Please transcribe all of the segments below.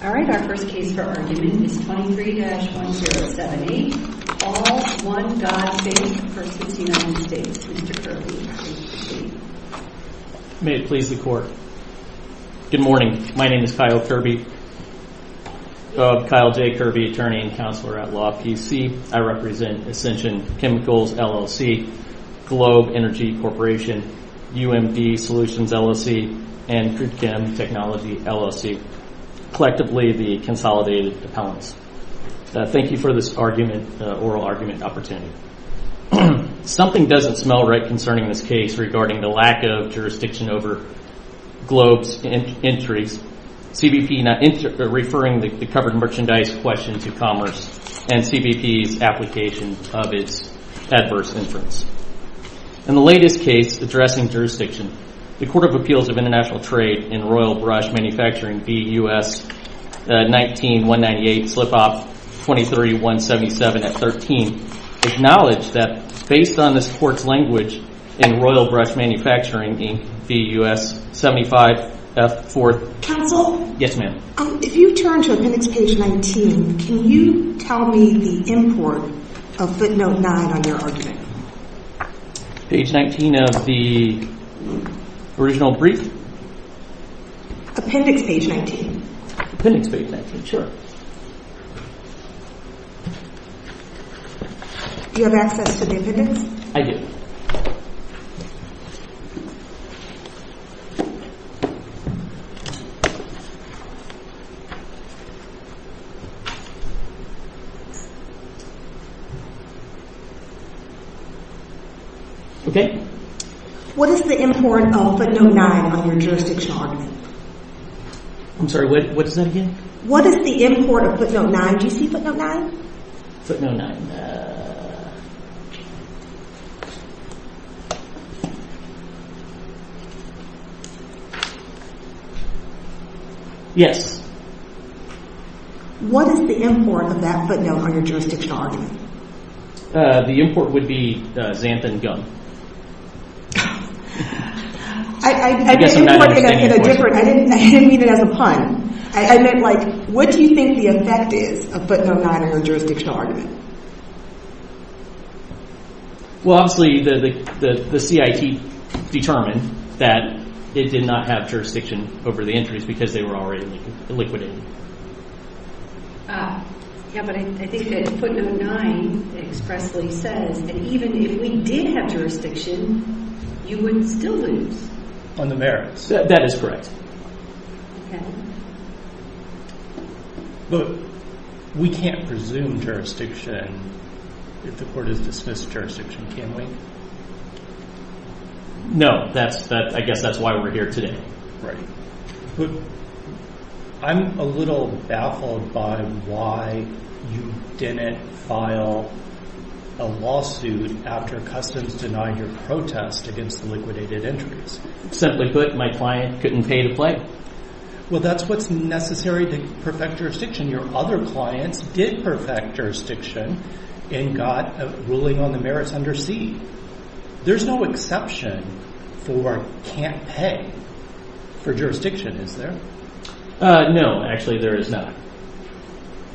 All right, our first case for argument is 23-1078, All One God Faith, Inc. v. United States. Mr. Kirby, please proceed. May it please the Court. Good morning. My name is Kyle Kirby. I'm Kyle J. Kirby, Attorney and Counselor at Law, PC. I represent Ascension Chemicals, LLC, Globe Energy Corporation, UMD Solutions, LLC, and Kudkem Technology, LLC. Collectively, the Consolidated Dependents. Thank you for this oral argument opportunity. Something doesn't smell right concerning this case regarding the lack of jurisdiction over Globe's entries, CBP referring the covered merchandise question to Commerce, and CBP's application of its adverse inference. In the latest case addressing jurisdiction, the Court of Appeals of International Trade in Royal Brush Manufacturing v. U.S. 19-198, Slip-Off 23-177-13, acknowledged that, based on this Court's language in Royal Brush Manufacturing v. U.S. 75-4- Counsel? Yes, ma'am. If you turn to appendix page 19, can you tell me the import of footnote 9 on your argument? Page 19 of the original brief? Appendix page 19. Appendix page 19, sure. Do you have access to the evidence? I do. Okay. What is the import of footnote 9 on your jurisdiction argument? I'm sorry, what is that again? What is the import of footnote 9? Do you see footnote 9? Footnote 9. Yes. What is the import of that footnote on your jurisdiction argument? The import would be xanthan gum. I didn't mean it as a pun. I meant like, what do you think the effect is of footnote 9 on your jurisdictional argument? Well, obviously the CIT determined that it did not have jurisdiction over the entries because they were already liquidated. Yeah, but I think that footnote 9 expressly says that even if we did have jurisdiction, you would still lose. On the merits? That is correct. Okay. But we can't presume jurisdiction if the court has dismissed jurisdiction, can we? No, I guess that's why we're here today. Right. I'm a little baffled by why you didn't file a lawsuit after customs denied your protest against the liquidated entries. Simply put, my client couldn't pay to play. Well, that's what's necessary to perfect jurisdiction. Your other clients did perfect jurisdiction and got a ruling on the merits under C. There's no exception for can't pay for jurisdiction, is there? No, actually there is not.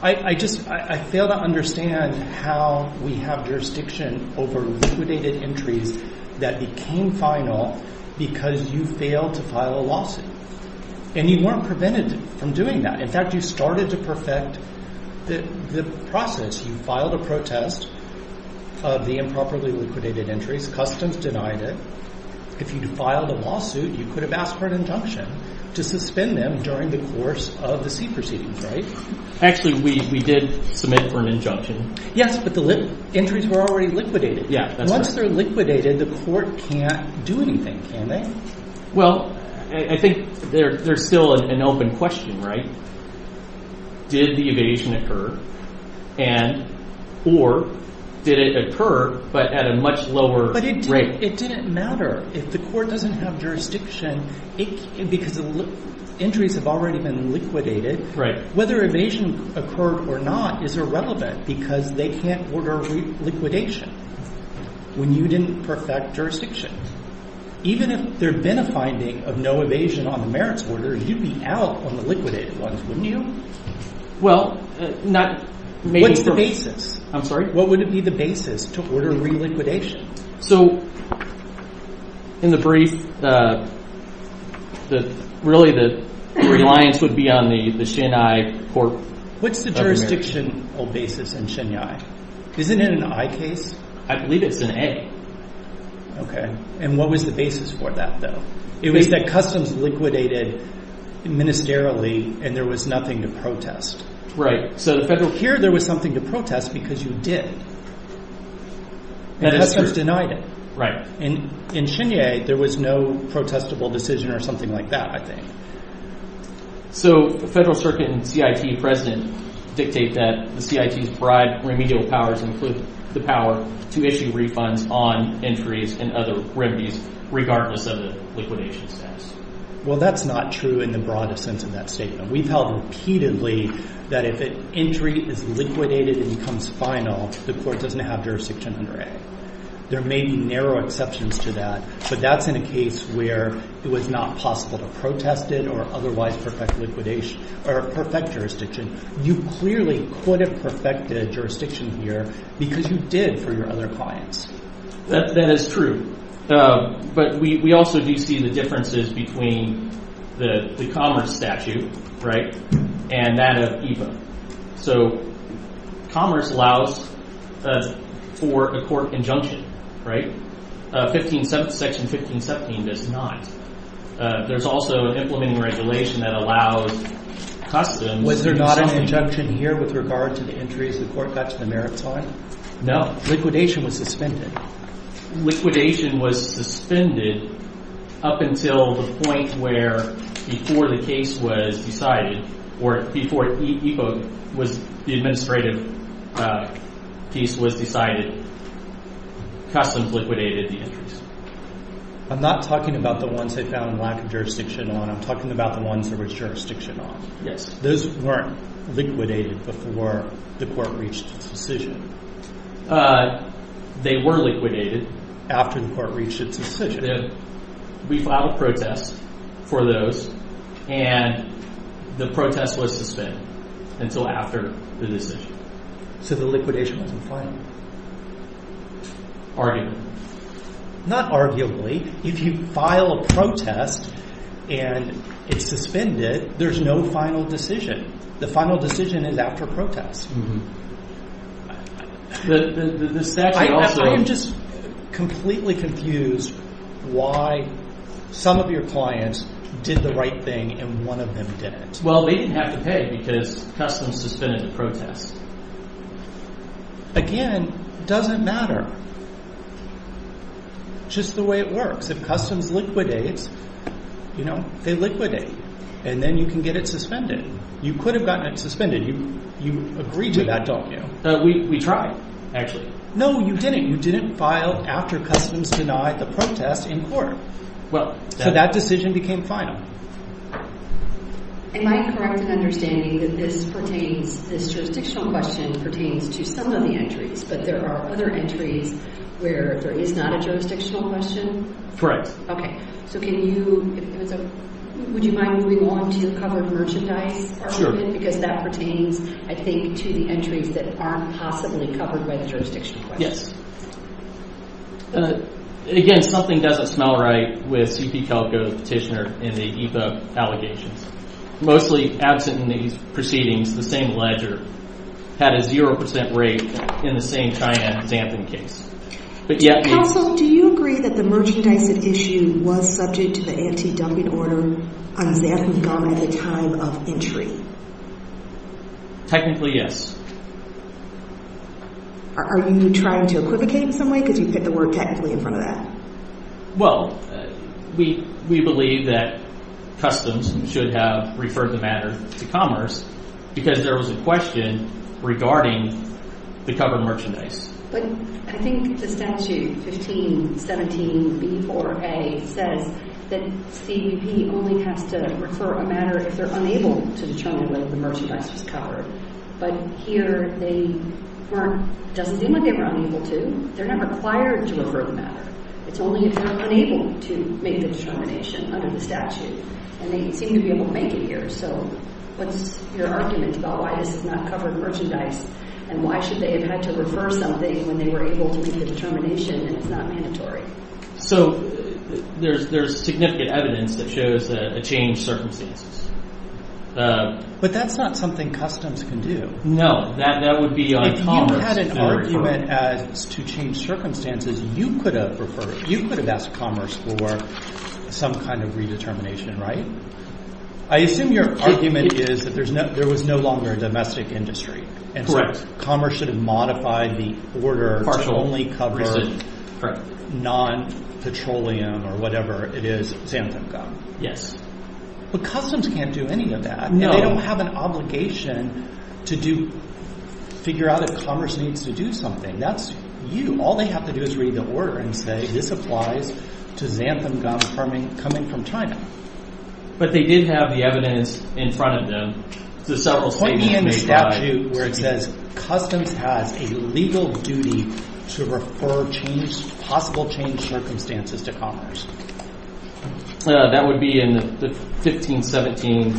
I just – I fail to understand how we have jurisdiction over liquidated entries that became final because you failed to file a lawsuit. And you weren't prevented from doing that. In fact, you started to perfect the process. You filed a protest of the improperly liquidated entries. Customs denied it. If you'd filed a lawsuit, you could have asked for an injunction to suspend them during the course of the C proceedings, right? Actually, we did submit for an injunction. Yes, but the entries were already liquidated. Yeah, that's right. Once they're liquidated, the court can't do anything, can they? Well, I think there's still an open question, right? Did the evasion occur and – or did it occur but at a much lower rate? But it didn't matter. If the court doesn't have jurisdiction because entries have already been liquidated, whether evasion occurred or not is irrelevant because they can't order liquidation when you didn't perfect jurisdiction. Even if there had been a finding of no evasion on the merits order, you'd be out on the liquidated ones, wouldn't you? Well, not – What's the basis? I'm sorry? What would be the basis to order reliquidation? So in the brief, really the reliance would be on the Shin-Ai court. What's the jurisdictional basis in Shin-Ai? Isn't it an I case? I believe it's an A. Okay. And what was the basis for that though? It was that customs liquidated ministerially and there was nothing to protest. Right. So the federal – Here there was something to protest because you did. And customs denied it. Right. And in Shin-Ai, there was no protestable decision or something like that I think. So the federal circuit and CIT president dictate that the CIT's bribe remedial powers include the power to issue refunds on entries and other remedies regardless of the liquidation status. Well, that's not true in the broadest sense of that statement. We've held repeatedly that if an entry is liquidated and becomes final, the court doesn't have jurisdiction under A. There may be narrow exceptions to that, but that's in a case where it was not possible to protest it or otherwise perfect jurisdiction. You clearly could have perfected jurisdiction here because you did for your other clients. That is true. But we also do see the differences between the commerce statute, right, and that of EVA. So commerce allows for a court injunction, right? Section 1517 does not. There's also an implementing regulation that allows customs – Was there not an injunction here with regard to the entries the court got to the maritime? No. Liquidation was suspended. Liquidation was suspended up until the point where before the case was decided or before the administrative piece was decided, customs liquidated the entries. I'm not talking about the ones they found lack of jurisdiction on. I'm talking about the ones there was jurisdiction on. Yes. Those weren't liquidated before the court reached its decision. They were liquidated after the court reached its decision. We filed a protest for those, and the protest was suspended until after the decision. So the liquidation wasn't final? Arguably. Not arguably. If you file a protest and it's suspended, there's no final decision. The final decision is after protest. The statute also – I am just completely confused why some of your clients did the right thing and one of them didn't. Well, they didn't have to pay because customs suspended the protest. Again, it doesn't matter. Just the way it works. If customs liquidates, they liquidate. And then you can get it suspended. You could have gotten it suspended. You agree to that, don't you? We tried, actually. No, you didn't. You didn't file after customs denied the protest in court. So that decision became final. Am I correct in understanding that this jurisdictional question pertains to some of the entries, but there are other entries where there is not a jurisdictional question? Correct. Okay. Would you mind moving on to the covered merchandise? Because that pertains, I think, to the entries that aren't possibly covered by the jurisdictional question. Again, something doesn't smell right with C.P. Calico's petitioner in the EIPA allegations. Mostly absent in these proceedings, the same ledger had a 0% rate in the same China Xanthan case. Counsel, do you agree that the merchandise at issue was subject to the anti-dumping order on Xanthan gum at the time of entry? Technically, yes. Are you trying to equivocate in some way? Because you put the word technically in front of that. Well, we believe that customs should have referred the matter to Commerce because there was a question regarding the covered merchandise. But I think the statute, 1517B4A, says that C.P. only has to refer a matter if they're unable to determine whether the merchandise was covered. But here they weren't, doesn't seem like they were unable to. They're not required to refer the matter. It's only if they're unable to make the determination under the statute. And they seem to be able to make it here. So what's your argument about why this is not covered merchandise? And why should they have had to refer something when they were able to make the determination and it's not mandatory? So there's significant evidence that shows a change in circumstances. But that's not something Customs can do. No, that would be on Commerce. If you had an argument to change circumstances, you could have asked Commerce for some kind of redetermination, right? I assume your argument is that there was no longer a domestic industry. And so Commerce should have modified the order to only cover non-petroleum or whatever it is, xanthan gum. Yes. But Customs can't do any of that. And they don't have an obligation to figure out if Commerce needs to do something. That's you. All they have to do is read the order and say this applies to xanthan gum coming from China. But they did have the evidence in front of them. Point me in the statute where it says Customs has a legal duty to refer possible change circumstances to Commerce. That would be in the 1517.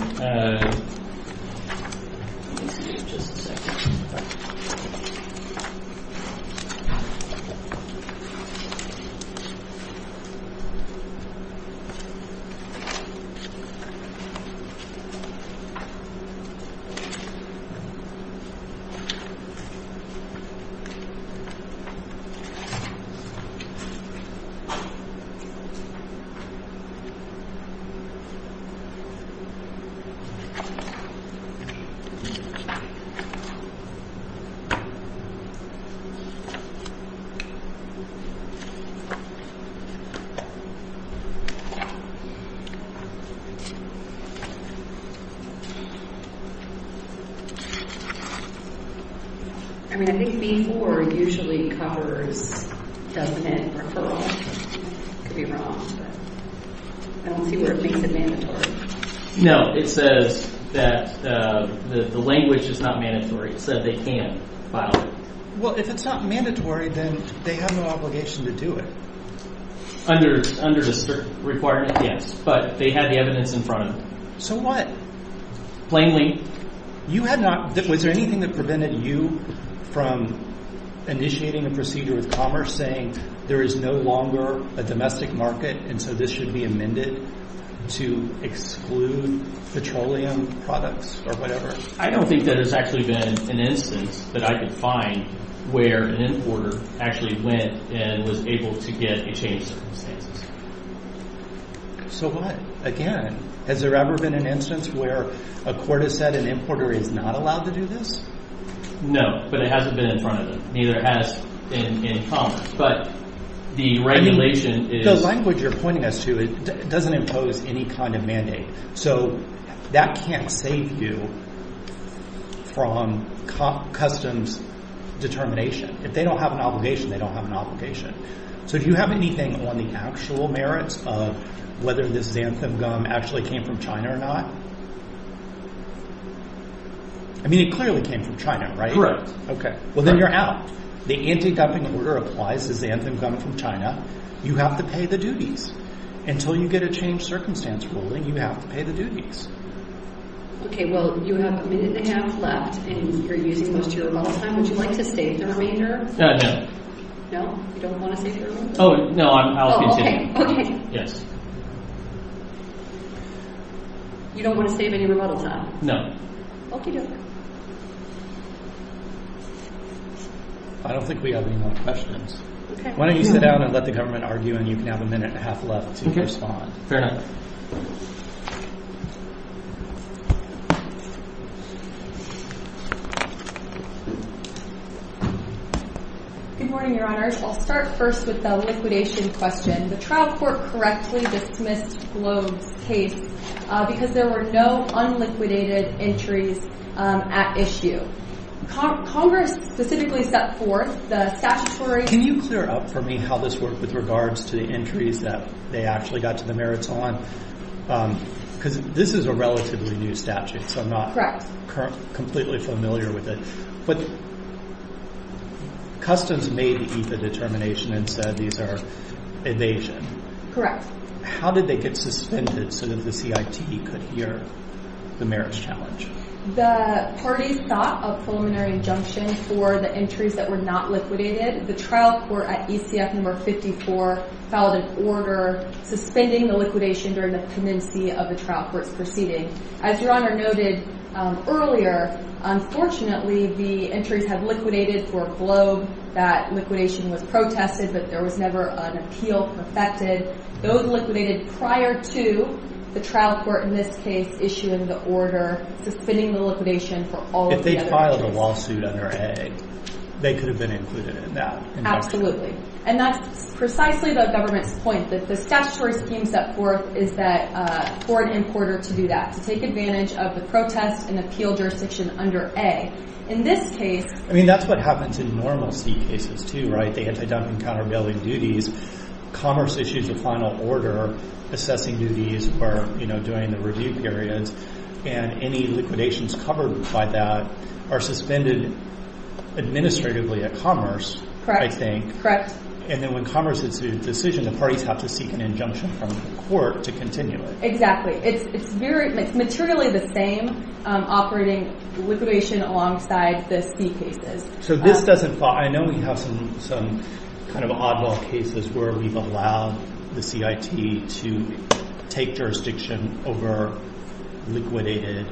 I mean, I think B-4 usually covers definite referral. I could be wrong, but I don't see where it makes it mandatory. No, it says that the language is not mandatory. It said they can't file it. Well, if it's not mandatory, then they have no obligation to do it. Under a certain requirement, yes. But they had the evidence in front of them. So what? Plainly. Was there anything that prevented you from initiating a procedure with Commerce saying there is no longer a domestic market, and so this should be amended to exclude petroleum products or whatever? I don't think that has actually been an instance that I could find where an importer actually went and was able to get a change of circumstances. So what? Again, has there ever been an instance where a court has said an importer is not allowed to do this? No, but it hasn't been in front of them. Neither has in Commerce. But the regulation is – The language you're pointing us to doesn't impose any kind of mandate. So that can't save you from Customs determination. If they don't have an obligation, they don't have an obligation. So do you have anything on the actual merits of whether this xanthan gum actually came from China or not? I mean it clearly came from China, right? Okay. Well, then you're out. The anti-dumping order applies to xanthan gum from China. You have to pay the duties. Until you get a change of circumstance ruling, you have to pay the duties. Okay. Well, you have a minute and a half left, and you're using most of your call time. Would you like to save the remainder? No, I don't. No? You don't want to save the remainder? No, I'll continue. Okay. Yes. You don't want to save any rebuttal time? No. Okay. I don't think we have any more questions. Why don't you sit down and let the government argue, and you can have a minute and a half left to respond. Fair enough. Good morning, Your Honors. I'll start first with the liquidation question. The trial court correctly dismissed Globe's case because there were no unliquidated entries at issue. Congress specifically set forth the statutory Can you clear up for me how this worked with regards to the entries that they actually got to the merits on? Because this is a relatively new statute, so I'm not completely familiar with it. But Customs made the ETHA determination and said these are evasion. Correct. How did they get suspended so that the CIT could hear the merits challenge? The party sought a preliminary injunction for the entries that were not liquidated. The trial court at ECF number 54 filed an order suspending the liquidation during the pendency of the trial court's proceeding. As Your Honor noted earlier, unfortunately, the entries had liquidated for Globe. That liquidation was protested, but there was never an appeal perfected. Those liquidated prior to the trial court in this case issuing the order suspending the liquidation for all of the other entries. If they filed a lawsuit under A, they could have been included in that injunction. And that's precisely the government's point that the statutory scheme set forth is that for an importer to do that, to take advantage of the protest and appeal jurisdiction under A. In this case. I mean, that's what happens in normal C cases, too, right? They had to dump in countervailing duties. Commerce issues a final order assessing duties or, you know, during the review periods. And any liquidations covered by that are suspended administratively at Commerce. Correct. I think. And then when Commerce issues a decision, the parties have to seek an injunction from the court to continue it. It's very materially the same operating liquidation alongside the C cases. So this doesn't fall. I know we have some kind of oddball cases where we've allowed the CIT to take jurisdiction over liquidated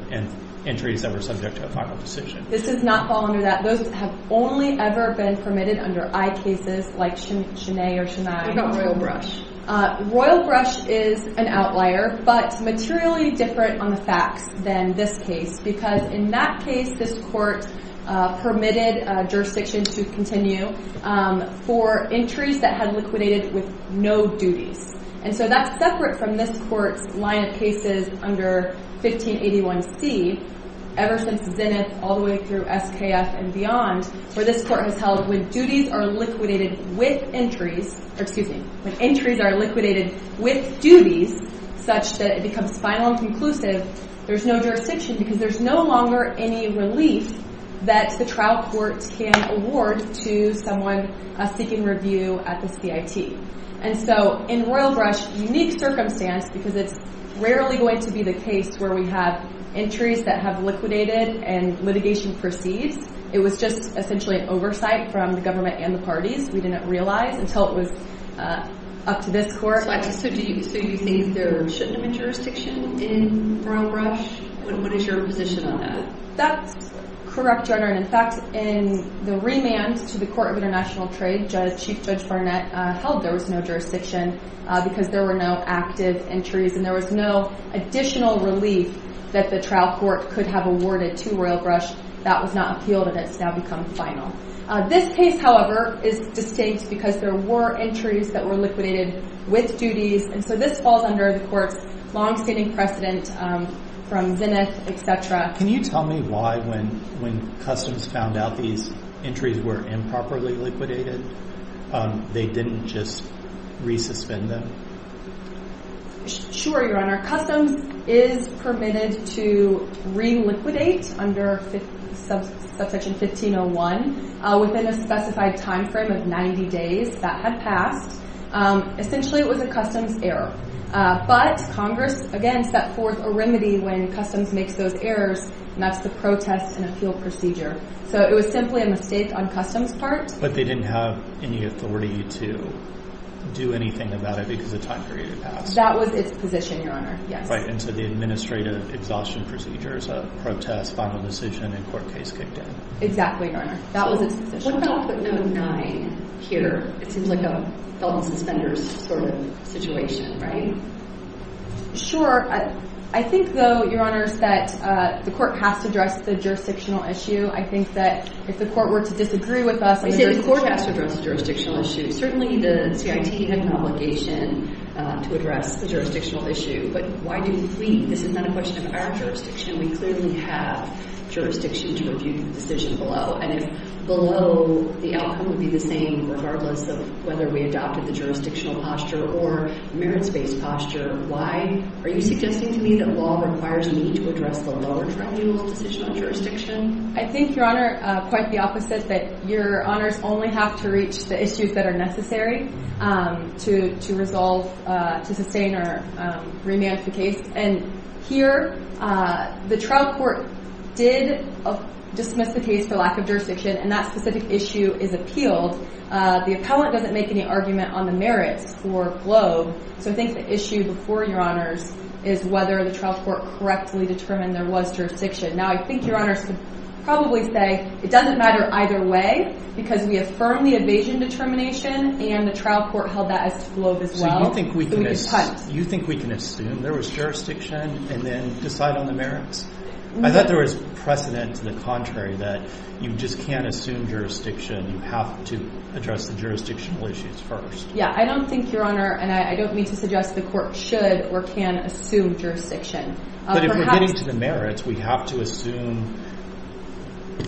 entries that were subject to a final decision. This does not fall under that. Those have only ever been permitted under I cases like Chenay or Chenay or Royal Brush. Royal Brush is an outlier, but materially different on the facts than this case. Because in that case, this court permitted jurisdiction to continue for entries that had liquidated with no duties. And so that's separate from this court's line of cases under 1581C, ever since Zenith all the way through SKF and beyond, where this court has held when duties are liquidated with entries, or excuse me, when entries are liquidated with duties such that it becomes final and conclusive, there's no jurisdiction because there's no longer any relief that the trial court can award to someone seeking review at the CIT. And so in Royal Brush, unique circumstance because it's rarely going to be the case where we have entries that have liquidated and litigation proceeds. It was just essentially an oversight from the government and the parties. We didn't realize until it was up to this court. So you think there shouldn't have been jurisdiction in Royal Brush? What is your position on that? That's correct, Your Honor. And in fact, in the remand to the Court of International Trade, Chief Judge Barnett held there was no jurisdiction because there were no active entries and there was no additional relief that the trial court could have awarded to Royal Brush that was not appealed and has now become final. This case, however, is distinct because there were entries that were liquidated with duties. And so this falls under the court's longstanding precedent from Zenith, et cetera. Can you tell me why when Customs found out these entries were improperly liquidated, they didn't just re-suspend them? Sure, Your Honor. Customs is permitted to re-liquidate under Subsection 1501 within a specified time frame of 90 days. That had passed. Essentially, it was a Customs error. But Congress, again, set forth a remedy when Customs makes those errors, and that's the protest and appeal procedure. So it was simply a mistake on Customs' part. But they didn't have any authority to do anything about it because the time period had passed. That was its position, Your Honor. Yes. Right. And so the administrative exhaustion procedures, a protest, final decision, and court case kicked in. Exactly, Your Honor. That was its position. What about footnote 9 here? It seems like a felt-and-suspenders sort of situation, right? Sure. I think, though, Your Honors, that the court has to address the jurisdictional issue. I think that if the court were to disagree with us, the court has to address the jurisdictional issue. Certainly, the CIT had an obligation to address the jurisdictional issue. But why do we? This is not a question of our jurisdiction. We clearly have jurisdiction to review the decision below. And if below, the outcome would be the same regardless of whether we adopted the jurisdictional posture or merits-based posture, why? Are you suggesting to me that law requires me to address the lower tribunal's decision on jurisdiction? I think, Your Honor, quite the opposite, that Your Honors only have to reach the issues that are necessary to resolve, to sustain or remand the case. And here, the trial court did dismiss the case for lack of jurisdiction, and that specific issue is appealed. The appellant doesn't make any argument on the merits for Globe. So I think the issue before, Your Honors, is whether the trial court correctly determined there was jurisdiction. Now, I think Your Honors could probably say it doesn't matter either way because we affirm the evasion determination, and the trial court held that as Globe as well. So you think we can assume there was jurisdiction and then decide on the merits? I thought there was precedent to the contrary that you just can't assume jurisdiction. You have to address the jurisdictional issues first. Yeah, I don't think, Your Honor, and I don't mean to suggest the court should or can assume jurisdiction. But if we're getting to the merits, we have to assume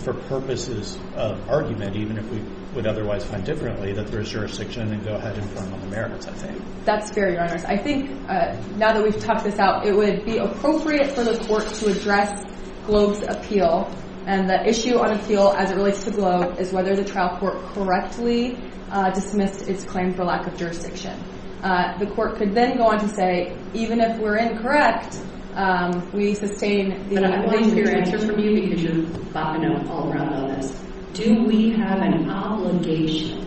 for purposes of argument, even if we would otherwise find differently, that there is jurisdiction and go ahead and form on the merits, I think. That's fair, Your Honors. I think now that we've talked this out, it would be appropriate for the court to address Globe's appeal, and the issue on appeal as it relates to Globe is whether the trial court correctly dismissed its claim for lack of jurisdiction. The court could then go on to say, even if we're incorrect, we sustain the— But I want your answer from you because you're bopping up all around on this. Do we have an obligation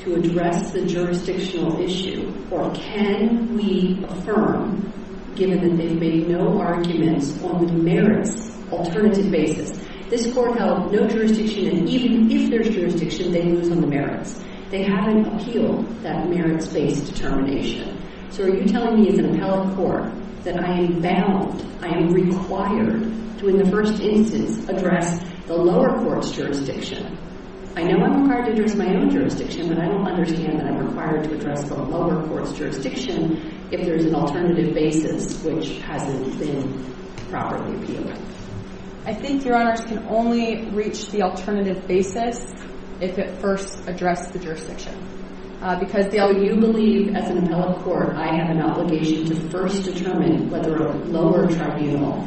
to address the jurisdictional issue, or can we affirm, given that they've made no arguments on the merits alternative basis? This court held no jurisdiction, and even if there's jurisdiction, they lose on the merits. They haven't appealed that merits-based determination. So are you telling me as an appellate court that I am bound, I am required to, in the first instance, address the lower court's jurisdiction? I know I'm required to address my own jurisdiction, but I don't understand that I'm required to address the lower court's jurisdiction if there's an alternative basis which hasn't been properly appealed. I think, Your Honors, can only reach the alternative basis if it first addressed the jurisdiction, because you believe as an appellate court I have an obligation to first determine whether a lower tribunal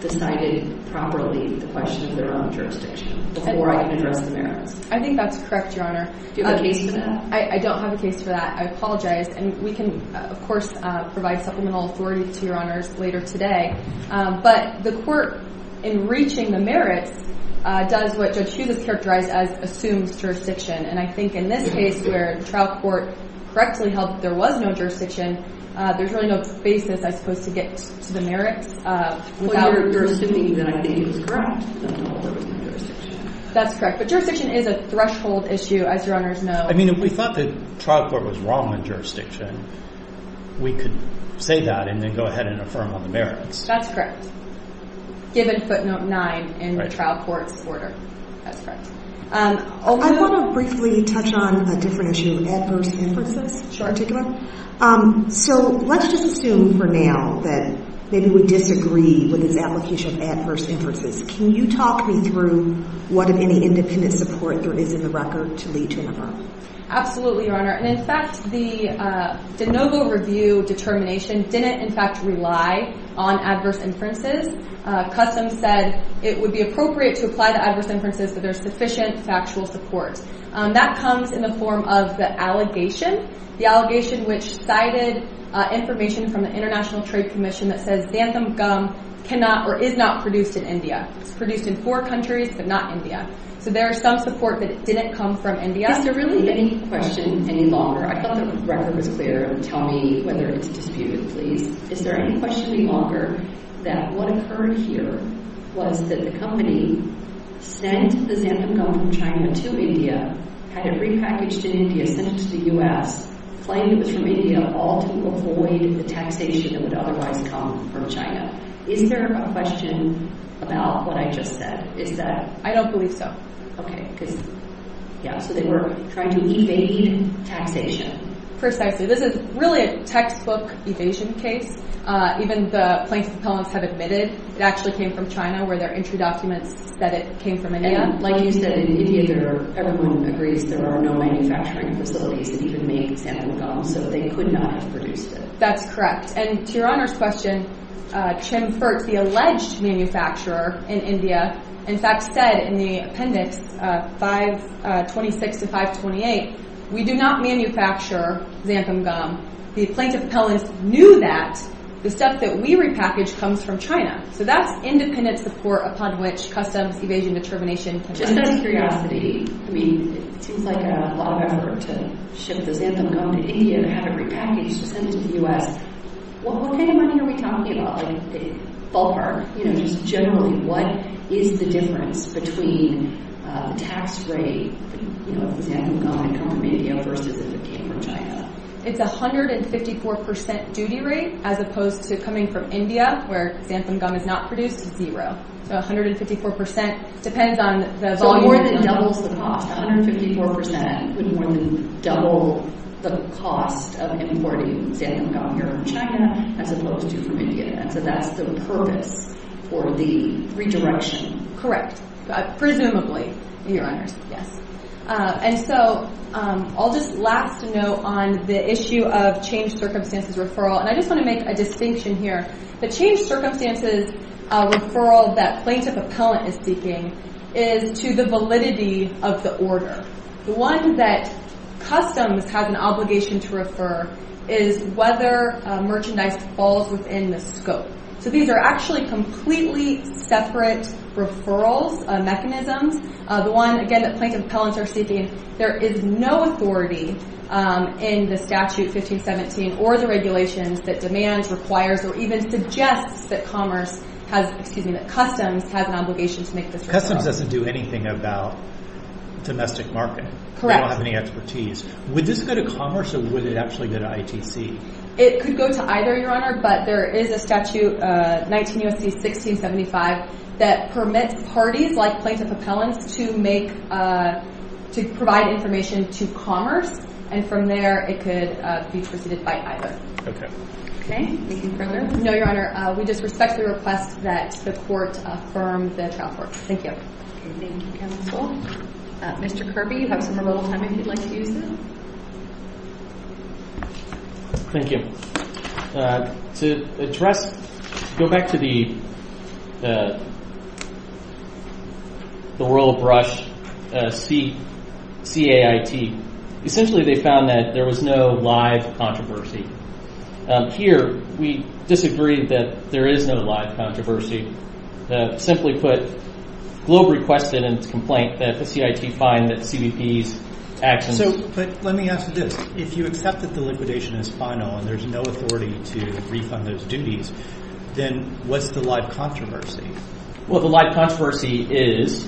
decided properly the question of their own jurisdiction before I can address the merits. I think that's correct, Your Honor. Do you have a case for that? I don't have a case for that. I apologize. And we can, of course, provide supplemental authority to Your Honors later today. But the court, in reaching the merits, does what Judge Hughes has characterized as assumes jurisdiction. And I think in this case, where the trial court correctly held that there was no jurisdiction, there's really no basis, I suppose, to get to the merits without… Well, you're assuming that I can use grounds. That's correct. But jurisdiction is a threshold issue, as Your Honors know. I mean, if we thought the trial court was wrong on jurisdiction, we could say that and then go ahead and affirm on the merits. That's correct, given footnote 9 in the trial court's order. That's correct. I want to briefly touch on a different issue, adverse inferences. Sure. So let's just assume for now that maybe we disagree with this application of adverse inferences. Can you talk me through what, if any, independent support there is in the record to lead to an affirm? Absolutely, Your Honor. And, in fact, the de novo review determination didn't, in fact, rely on adverse inferences. Customs said it would be appropriate to apply the adverse inferences if there's sufficient factual support. That comes in the form of the allegation, the allegation which cited information from the International Trade Commission that says xanthan gum cannot or is not produced in India. It's produced in four countries, but not India. So there is some support that it didn't come from India. Is there really any question any longer? I thought the record was clear. Tell me whether it's disputed, please. Is there any question any longer that what occurred here was that the company sent the xanthan gum from China to India, had it repackaged in India, sent it to the U.S., claimed it was from India, all to avoid the taxation that would otherwise come from China. Is there a question about what I just said? Is that... I don't believe so. Okay, because... Yeah, so they were trying to evade taxation. Precisely. This is really a textbook evasion case. Even the plaintiff's appellants have admitted it actually came from China, where their entry documents said it came from India. And like you said, in India, everyone agrees there are no manufacturing facilities that even make xanthan gum, so they could not have produced it. That's correct. And to Your Honor's question, the alleged manufacturer in India, in fact, said in the appendix 526 to 528, we do not manufacture xanthan gum. The plaintiff's appellants knew that. The stuff that we repackaged comes from China. So that's independent support upon which customs evasion determination... Just out of curiosity, I mean, it seems like a lot of effort to ship the xanthan gum to India and have it repackaged to send it to the U.S. Well, what kind of money are we talking about? Like, ballpark. Just generally, what is the difference between tax rate of xanthan gum coming from India versus if it came from China? It's a 154% duty rate, as opposed to coming from India, where xanthan gum is not produced, zero. So 154% depends on the volume... So more than doubles the cost. 154% would more than double the cost of importing xanthan gum here from China, as opposed to from India. And so that's the purpose for the redirection. Correct. Presumably, Your Honors. Yes. And so I'll just last note on the issue of changed circumstances referral. And I just want to make a distinction here. The changed circumstances referral that plaintiff-appellant is seeking is to the validity of the order. The one that customs has an obligation to refer is whether merchandise falls within the scope. So these are actually completely separate referrals mechanisms. The one, again, that plaintiff-appellants are seeking, there is no authority in the statute 1517 or the regulations that demands, requires, or even suggests that commerce has, excuse me, that customs has an obligation to make this referral. Customs doesn't do anything about domestic market. Correct. They don't have any expertise. Would this go to commerce or would it actually go to ITC? It could go to either, Your Honor, but there is a statute, 19 U.S.C. 1675, that permits parties like plaintiff-appellants to make, to provide information to commerce. And from there, it could be proceeded by either. Okay. Any further? No, Your Honor. We just respectfully request that the court affirm the trial court. Thank you. Thank you, Counsel. Mr. Kirby, you have some remotal time if you'd like to use that. Thank you. To address, go back to the Royal Brush CAIT. Essentially, they found that there was no live controversy. Here, we disagree that there is no live controversy. Simply put, Globe requested in its complaint that the CIT find that CBP's actions But let me ask you this. If you accept that the liquidation is final and there's no authority to refund those duties, then what's the live controversy? Well, the live controversy is,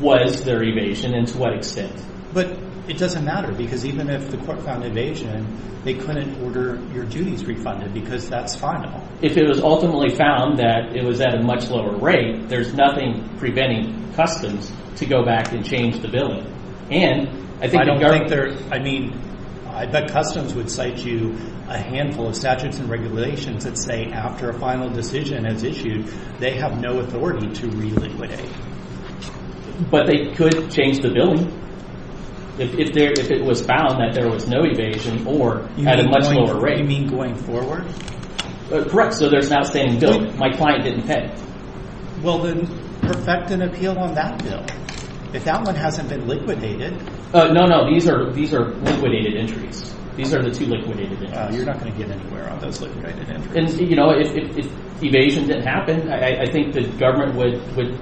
was there evasion and to what extent? But it doesn't matter because even if the court found evasion, they couldn't order your duties refunded because that's final. If it was ultimately found that it was at a much lower rate, there's nothing preventing customs to go back and change the billing. And I think the government I don't think they're, I mean, I bet customs would cite you a handful of statutes and regulations that say after a final decision is issued, they have no authority to reliquidate. But they could change the billing if it was found that there was no evasion or at a much lower rate. You mean going forward? Correct. So there's an outstanding billing. My client didn't pay. Well, then perfect an appeal on that bill. If that one hasn't been liquidated. No, no, these are liquidated entries. These are the two liquidated entries. You're not going to get anywhere on those liquidated entries. And, you know, if evasion didn't happen, I think the government would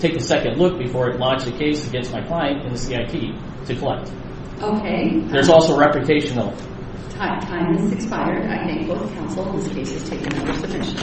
take a second look before it launched a case against my client and the CIT to collect. Okay. There's also reputational. Time has expired. I thank both counsel. This case has taken another submission.